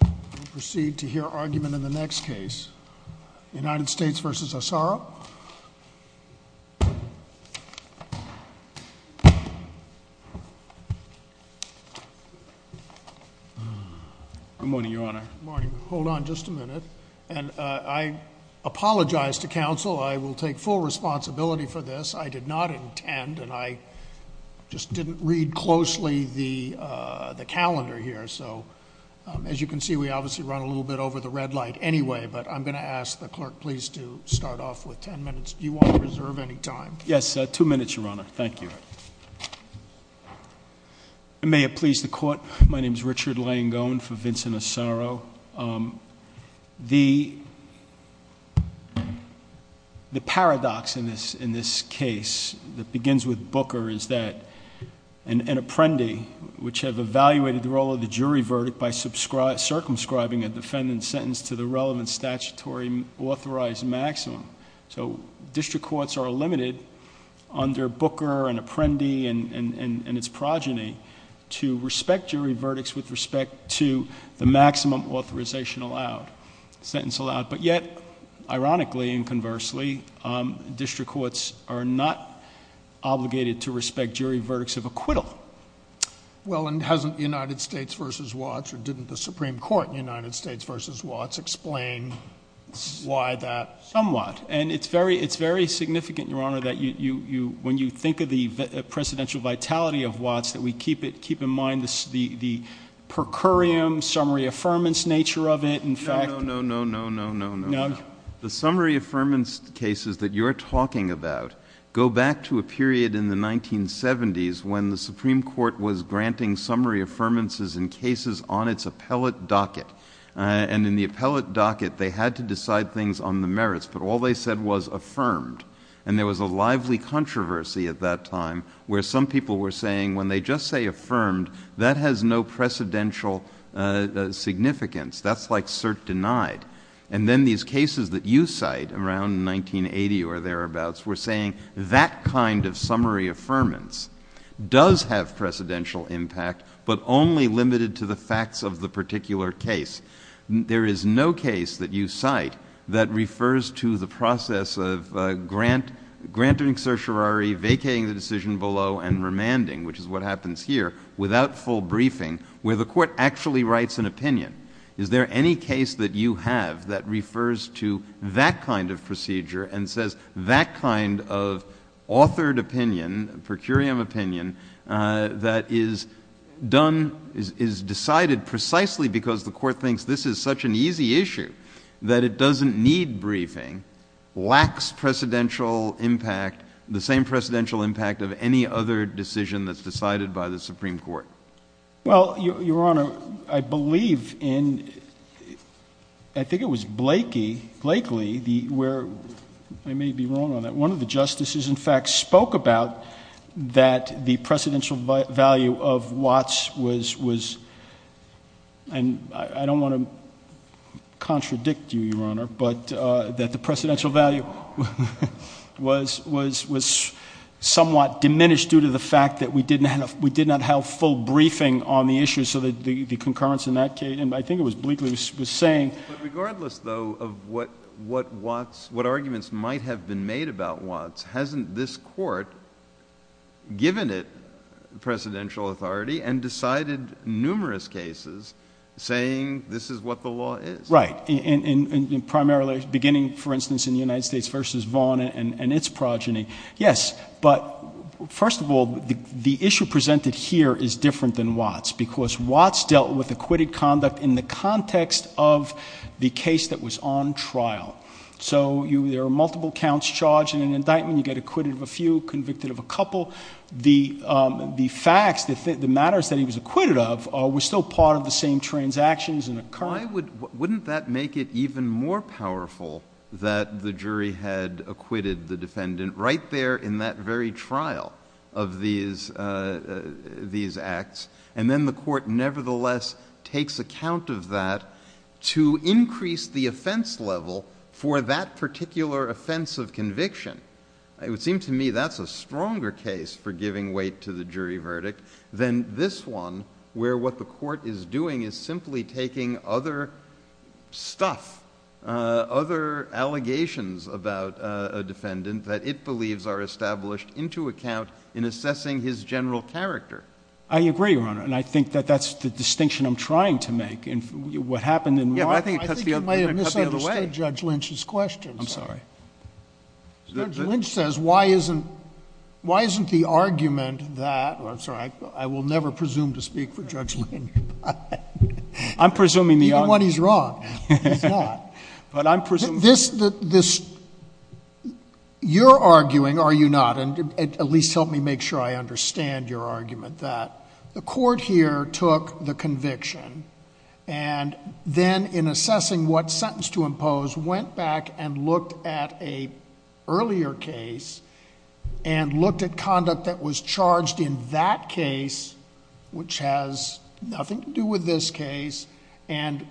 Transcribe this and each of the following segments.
We'll proceed to hear argument in the next case. United States v. Asaro. Good morning, Your Honor. Good morning. Hold on just a minute. And I apologize to counsel. I will take full responsibility for this. I did not intend, and I just didn't read closely the calendar here. So, as you can see, we obviously run a little bit over the red light anyway. But I'm going to ask the clerk please to start off with ten minutes. Do you want to reserve any time? Yes, two minutes, Your Honor. Thank you. May it please the Court, my name is Richard Langone for Vincent Asaro. The paradox in this case that begins with Booker is that an apprendee, which have evaluated the role of the jury verdict by circumscribing a defendant's sentence to the relevant statutory authorized maximum. So district courts are limited under Booker and Apprendi and its progeny to respect jury verdicts with respect to the maximum authorization allowed, sentence allowed. But yet, ironically and conversely, district courts are not obligated to respect jury verdicts of acquittal. Well, and hasn't United States v. Watts, or didn't the Supreme Court in United States v. Watts explain why that? Somewhat. And it's very significant, Your Honor, that when you think of the precedential vitality of Watts, that we keep in mind the per curiam, summary affirmance nature of it. No, no, no, no, no, no. No? The summary affirmance cases that you're talking about go back to a period in the 1970s when the Supreme Court was granting summary affirmances in cases on its appellate docket. And in the appellate docket, they had to decide things on the merits, but all they said was affirmed. And there was a lively controversy at that time where some people were saying when they just say affirmed, that has no precedential significance. That's like cert denied. And then these cases that you cite around 1980 or thereabouts were saying that kind of summary affirmance does have precedential impact, but only limited to the facts of the particular case. There is no case that you cite that refers to the process of granting certiorari, vacating the decision below, and remanding, which is what happens here, without full briefing, where the court actually writes an opinion. Is there any case that you have that refers to that kind of procedure and says that kind of authored opinion, per curiam opinion, that is done, is decided precisely because the court thinks this is such an easy issue that it doesn't need briefing, lacks precedential impact, the same precedential impact of any other decision that's decided by the Supreme Court? Well, Your Honor, I believe in, I think it was Blakely, where I may be wrong on that, one of the justices in fact spoke about that the precedential value of Watts was, and I don't want to contradict you, Your Honor, but that the precedential value was somewhat diminished due to the fact that we did not have full briefing. But regardless, though, of what arguments might have been made about Watts, hasn't this court given it precedential authority and decided numerous cases saying this is what the law is? Right. Primarily, beginning, for instance, in the United States v. Vaughn and its progeny. Yes. But first of all, the issue presented here is different than Watts, because Watts dealt with acquitted conduct in the context of the case that was on trial. So there are multiple counts charged in an indictment. You get acquitted of a few, convicted of a couple. The facts, the matters that he was acquitted of were still part of the same transactions. Why wouldn't that make it even more powerful that the jury had acquitted the defendant right there in that very trial of these acts, and then the court nevertheless takes account of that to increase the offense level for that particular offense of conviction? It would seem to me that's a stronger case for giving weight to the jury verdict than this one, where what the court is doing is simply taking other stuff, other allegations about a defendant that it believes are established into account in assessing his general character. I agree, Your Honor. And I think that that's the distinction I'm trying to make. What happened in Watts, I think you might have misunderstood Judge Lynch's question. I'm sorry. Judge Lynch says, why isn't the argument that—I'm sorry, I will never presume to speak for Judge Lynch. I'm presuming the argument— Even when he's wrong, he's not. But I'm presuming— You're arguing, or you're not, and at least help me make sure I understand your argument, that the court here took the conviction and then, in assessing what sentence to impose, went back and looked at an earlier case and looked at conduct that was charged in that case, which has nothing to do with this case, and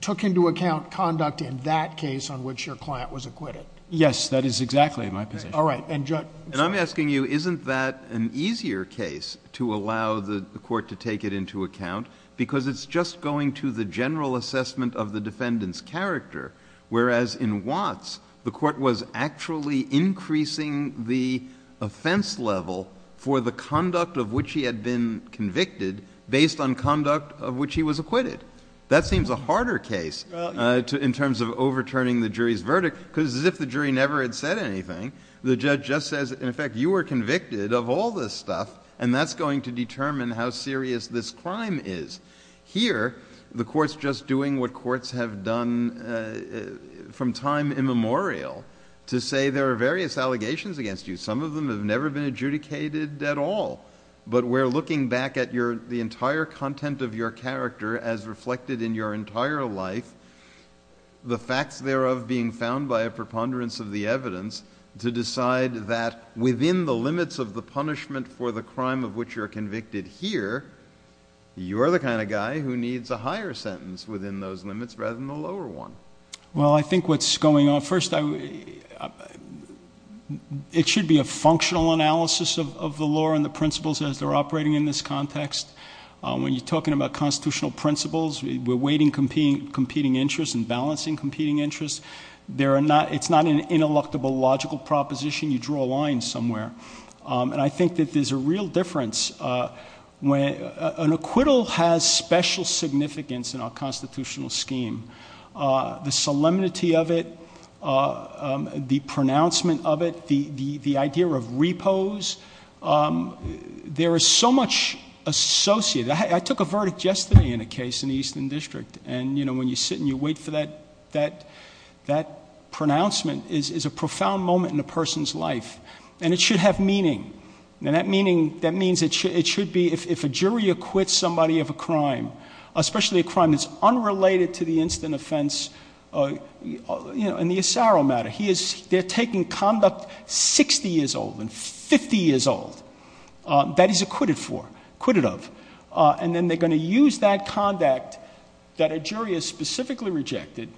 took into account conduct in that case on which your client was acquitted. Yes. That is exactly my position. All right. And Judge— And I'm asking you, isn't that an easier case to allow the court to take it into account? Because it's just going to the general assessment of the defendant's character, whereas in Watts, the court was actually increasing the offense level for the conduct of which he had been convicted based on conduct of which he was acquitted. That seems a harder case in terms of overturning the jury's verdict, because as if the jury never had said anything, the judge just says, in effect, you were convicted of all this stuff, and that's going to determine how serious this crime is. Here, the court's just doing what courts have done from time immemorial, to say there are various allegations against you. Some of them have never been adjudicated at all. But we're looking back at the entire content of your character as reflected in your entire life, the facts thereof being found by a preponderance of the evidence, to decide that within the limits of the punishment for the crime of which you're convicted here, you're the kind of guy who needs a higher sentence within those limits rather than a lower one. Well, I think what's going on, first, it should be a functional analysis of the law and the principles as they're operating in this context. When you're talking about constitutional principles, we're weighting competing interests and balancing competing interests. It's not an ineluctable logical proposition. You draw a line somewhere. I think that there's a real difference. An acquittal has special significance in our constitutional scheme. The solemnity of it, the pronouncement of it, the idea of repose, there is so much associated. I took a verdict yesterday in a case in the Eastern District. And, you know, when you sit and you wait for that pronouncement, it's a profound moment in a person's life. And it should have meaning. And that meaning, that means it should be, if a jury acquits somebody of a crime, especially a crime that's unrelated to the instant offense, you know, in the Asaro matter, they're taking conduct 60 years old and 50 years old that he's acquitted for, acquitted of. And then they're going to use that conduct that a jury has specifically rejected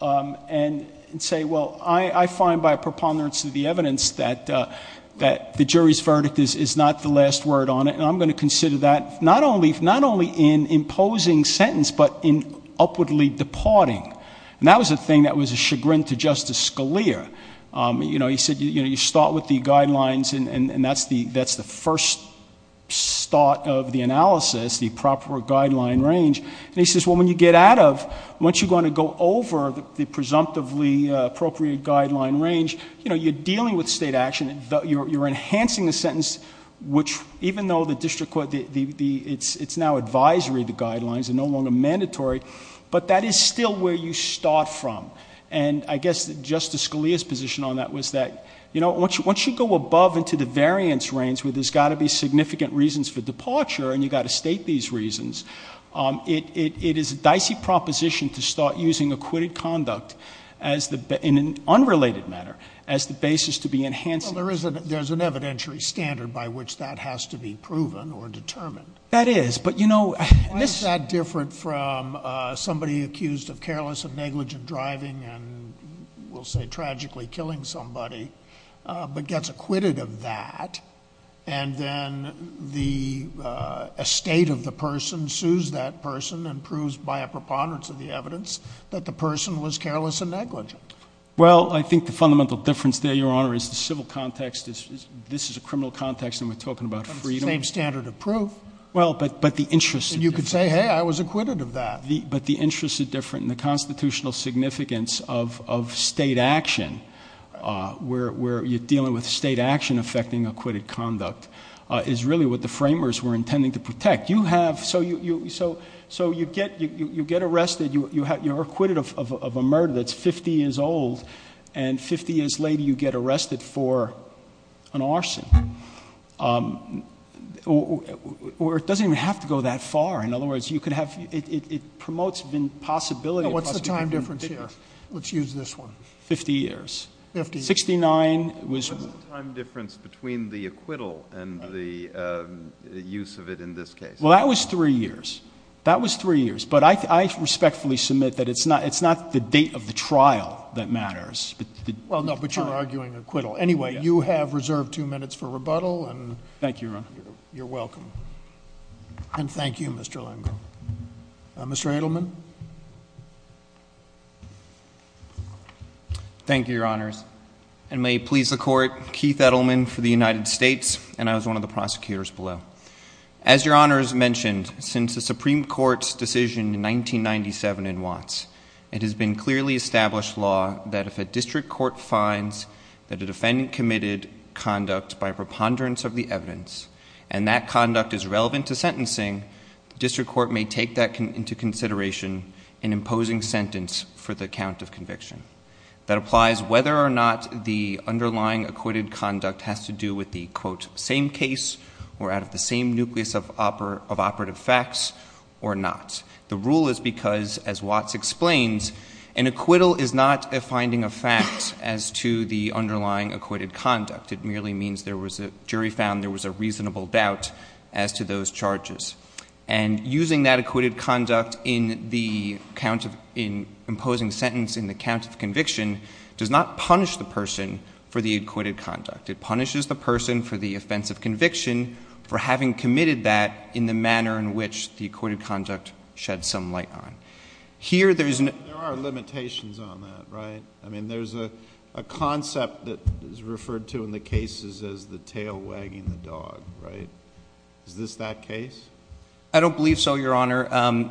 and say, well, I find by preponderance of the evidence that the jury's verdict is not the last word on it. And I'm going to consider that not only in imposing sentence, but in upwardly departing. And that was a thing that was a chagrin to Justice Scalia. You know, he said, you know, you start with the guidelines and that's the first start of the analysis, the proper guideline range. And he says, well, when you get out of, once you're going to go over the presumptively appropriate guideline range, you know, you're dealing with state action. You're enhancing the sentence, which even though the district court, it's now advisory, the guidelines are no longer mandatory. But that is still where you start from. And I guess Justice Scalia's position on that was that, you know, once you go above into the variance range where there's got to be significant reasons for departure and you've got to state these reasons. It is a dicey proposition to start using acquitted conduct as the, in an unrelated matter, as the basis to be enhanced. There's an evidentiary standard by which that has to be proven or determined. That is, but you know. Why is that different from somebody accused of careless and negligent driving and we'll say tragically killing somebody, but gets acquitted of that. And then the estate of the person sues that person and proves by a preponderance of the evidence that the person was careless and negligent. Well, I think the fundamental difference there, Your Honor, is the civil context. This is a criminal context and we're talking about freedom. It's the same standard of proof. Well, but the interest. And you could say, hey, I was acquitted of that. But the interest is different and the constitutional significance of state action, where you're dealing with state action affecting acquitted conduct, is really what the framers were intending to protect. You have, so you get arrested, you're acquitted of a murder that's 50 years old and 50 years later you get arrested for an arson. Or it doesn't even have to go that far. In other words, you could have, it promotes the possibility. What's the time difference here? Let's use this one. 50 years. 59 was. What's the time difference between the acquittal and the use of it in this case? Well, that was 3 years. That was 3 years. But I respectfully submit that it's not the date of the trial that matters. Well, no, but you're arguing acquittal. Anyway, you have reserved two minutes for rebuttal. Thank you, Your Honor. You're welcome. And thank you, Mr. Lengel. Mr. Edelman. Thank you, Your Honors. And may it please the Court, Keith Edelman for the United States, and I was one of the prosecutors below. As Your Honors mentioned, since the Supreme Court's decision in 1997 in Watts, it has been clearly established law that if a district court finds that a defendant committed conduct by preponderance of the evidence, and that conduct is relevant to sentencing, the district court may take that into consideration in imposing sentence for the count of conviction. That applies whether or not the underlying acquitted conduct has to do with the, quote, same case or out of the same nucleus of operative facts or not. The rule is because, as Watts explains, an acquittal is not a finding of fact as to the underlying acquitted conduct. It merely means there was a jury found there was a reasonable doubt as to those charges. And using that acquitted conduct in the count of, in imposing sentence in the count of conviction, does not punish the person for the acquitted conduct. It punishes the person for the offense of conviction for having committed that in the manner in which the acquitted conduct shed some light on. Here, there is an... There are limitations on that, right? I mean, there's a concept that is referred to in the cases as the tail wagging the dog, right? Is this that case? I don't believe so, Your Honor. I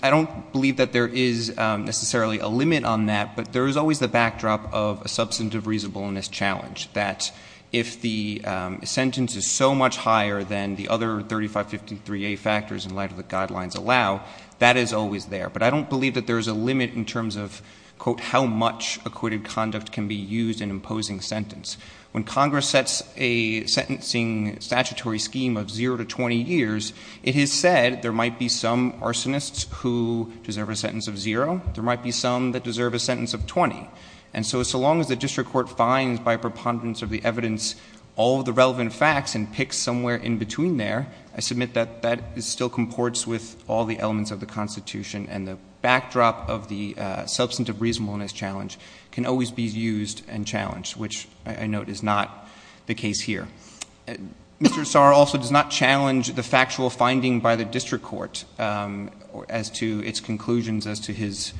don't believe that there is necessarily a limit on that, but there is always the backdrop of a substantive reasonableness challenge, that if the sentence is so much higher than the other 3553A factors in light of the guidelines allow, that is always there. But I don't believe that there is a limit in terms of, quote, how much acquitted conduct can be used in imposing sentence. When Congress sets a sentencing statutory scheme of zero to 20 years, it is said there might be some arsonists who deserve a sentence of zero. There might be some that deserve a sentence of 20. And so, so long as the district court finds by preponderance of the evidence all of the relevant facts and picks somewhere in between there, I submit that that still comports with all the elements of the Constitution, and the backdrop of the substantive reasonableness challenge can always be used and challenged, which I note is not the case here. Mr. Assar also does not challenge the factual finding by the district court as to its conclusions as to his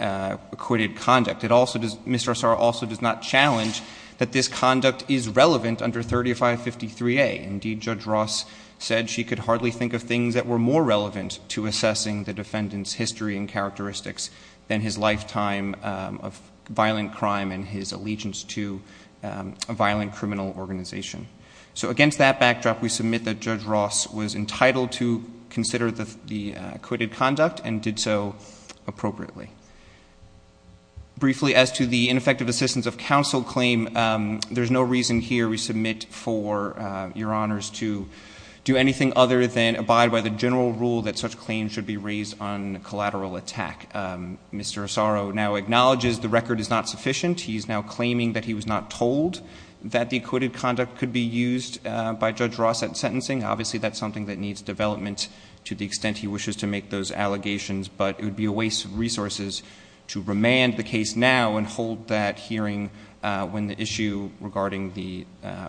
acquitted conduct. Mr. Assar also does not challenge that this conduct is relevant under 3553A. Indeed, Judge Ross said she could hardly think of things that were more relevant to assessing the defendant's history and characteristics than his lifetime of violent crime and his allegiance to a violent criminal organization. So against that backdrop, we submit that Judge Ross was entitled to consider the acquitted conduct and did so appropriately. Briefly, as to the ineffective assistance of counsel claim, there's no reason here we submit for Your Honors to do anything other than abide by the general rule that such claims should be raised on collateral attack. Mr. Assar now acknowledges the record is not sufficient. He is now claiming that he was not told that the acquitted conduct could be used by Judge Ross at sentencing. Obviously, that's something that needs development to the extent he wishes to make those allegations, but it would be a waste of resources to remand the case now and hold that hearing when the issue regarding the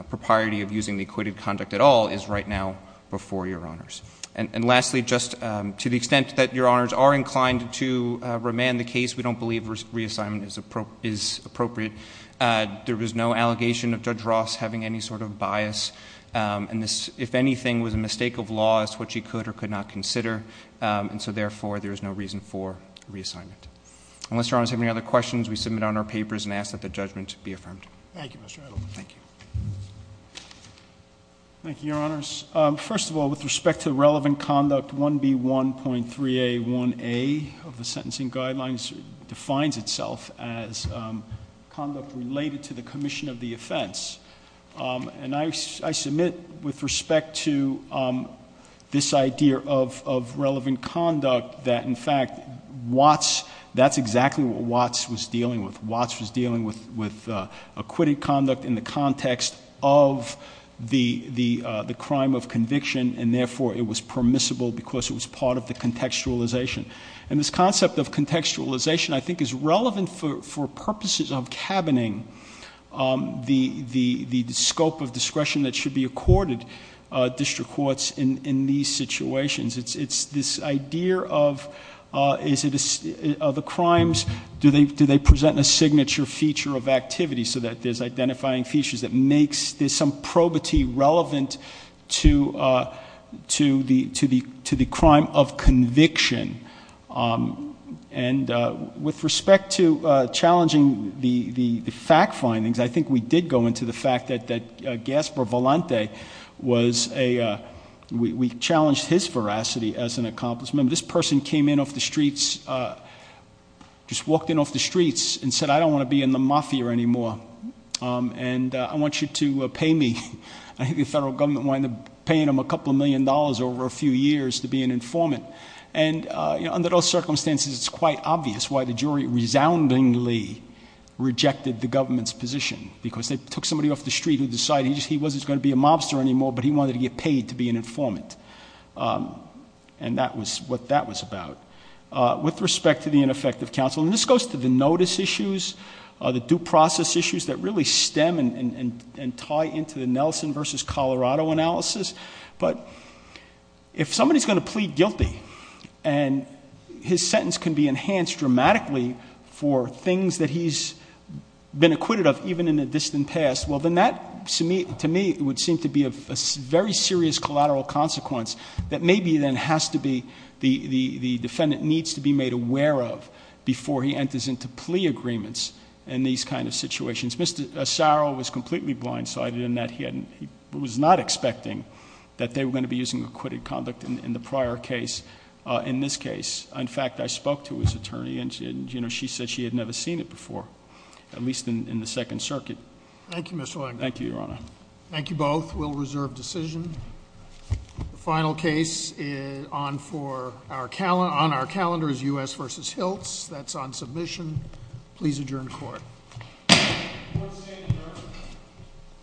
propriety of using the acquitted conduct at all is right now before Your Honors. And lastly, just to the extent that Your Honors are inclined to remand the case, we don't believe reassignment is appropriate. There was no allegation of Judge Ross having any sort of bias, and this, if anything, was a mistake of law as to what she could or could not consider. And so, therefore, there is no reason for reassignment. Unless Your Honors have any other questions, we submit on our papers and ask that the judgment be affirmed. Thank you, Mr. Edelman. Thank you. Thank you, Your Honors. First of all, with respect to relevant conduct, 1B1.3A1A of the sentencing guidelines defines itself as conduct related to the commission of the offense. And I submit with respect to this idea of relevant conduct that, in fact, Watts, that's exactly what Watts was dealing with. Watts was dealing with acquitted conduct in the context of the crime of conviction, and therefore it was permissible because it was part of the contextualization. And this concept of contextualization, I think, is relevant for purposes of cabining the scope of discretion that should be accorded district courts in these situations. It's this idea of the crimes, do they present a signature feature of activity so that there's identifying features that makes, there's some probity relevant to the crime of conviction. And with respect to challenging the fact findings, I think we did go into the fact that Gaspar Volante was a, we challenged his veracity as an accomplice. Remember, this person came in off the streets, just walked in off the streets and said, I don't want to be in the mafia anymore, and I want you to pay me. I think the federal government wound up paying him a couple million dollars over a few years to be an informant. And under those circumstances, it's quite obvious why the jury resoundingly rejected the government's position, because they took somebody off the street who decided he wasn't going to be a mobster anymore, but he wanted to get paid to be an informant. And that was what that was about. With respect to the ineffective counsel, and this goes to the notice issues, the due process issues that really stem and tie into the Nelson versus Colorado analysis. But if somebody's going to plead guilty and his sentence can be enhanced dramatically for things that he's been acquitted of, even in the distant past, well, then that to me would seem to be a very serious collateral consequence that maybe then has to be, the defendant needs to be made aware of before he enters into plea agreements in these kind of situations. Mr. Saro was completely blindsided in that he was not expecting that they were going to be using acquitted conduct in the prior case. In this case, in fact, I spoke to his attorney, and she said she had never seen it before, at least in the Second Circuit. Thank you, Mr. Langer. Thank you, Your Honor. Thank you both. We'll reserve decision. The final case on our calendar is U.S. v. Hiltz. That's on submission. Please adjourn court.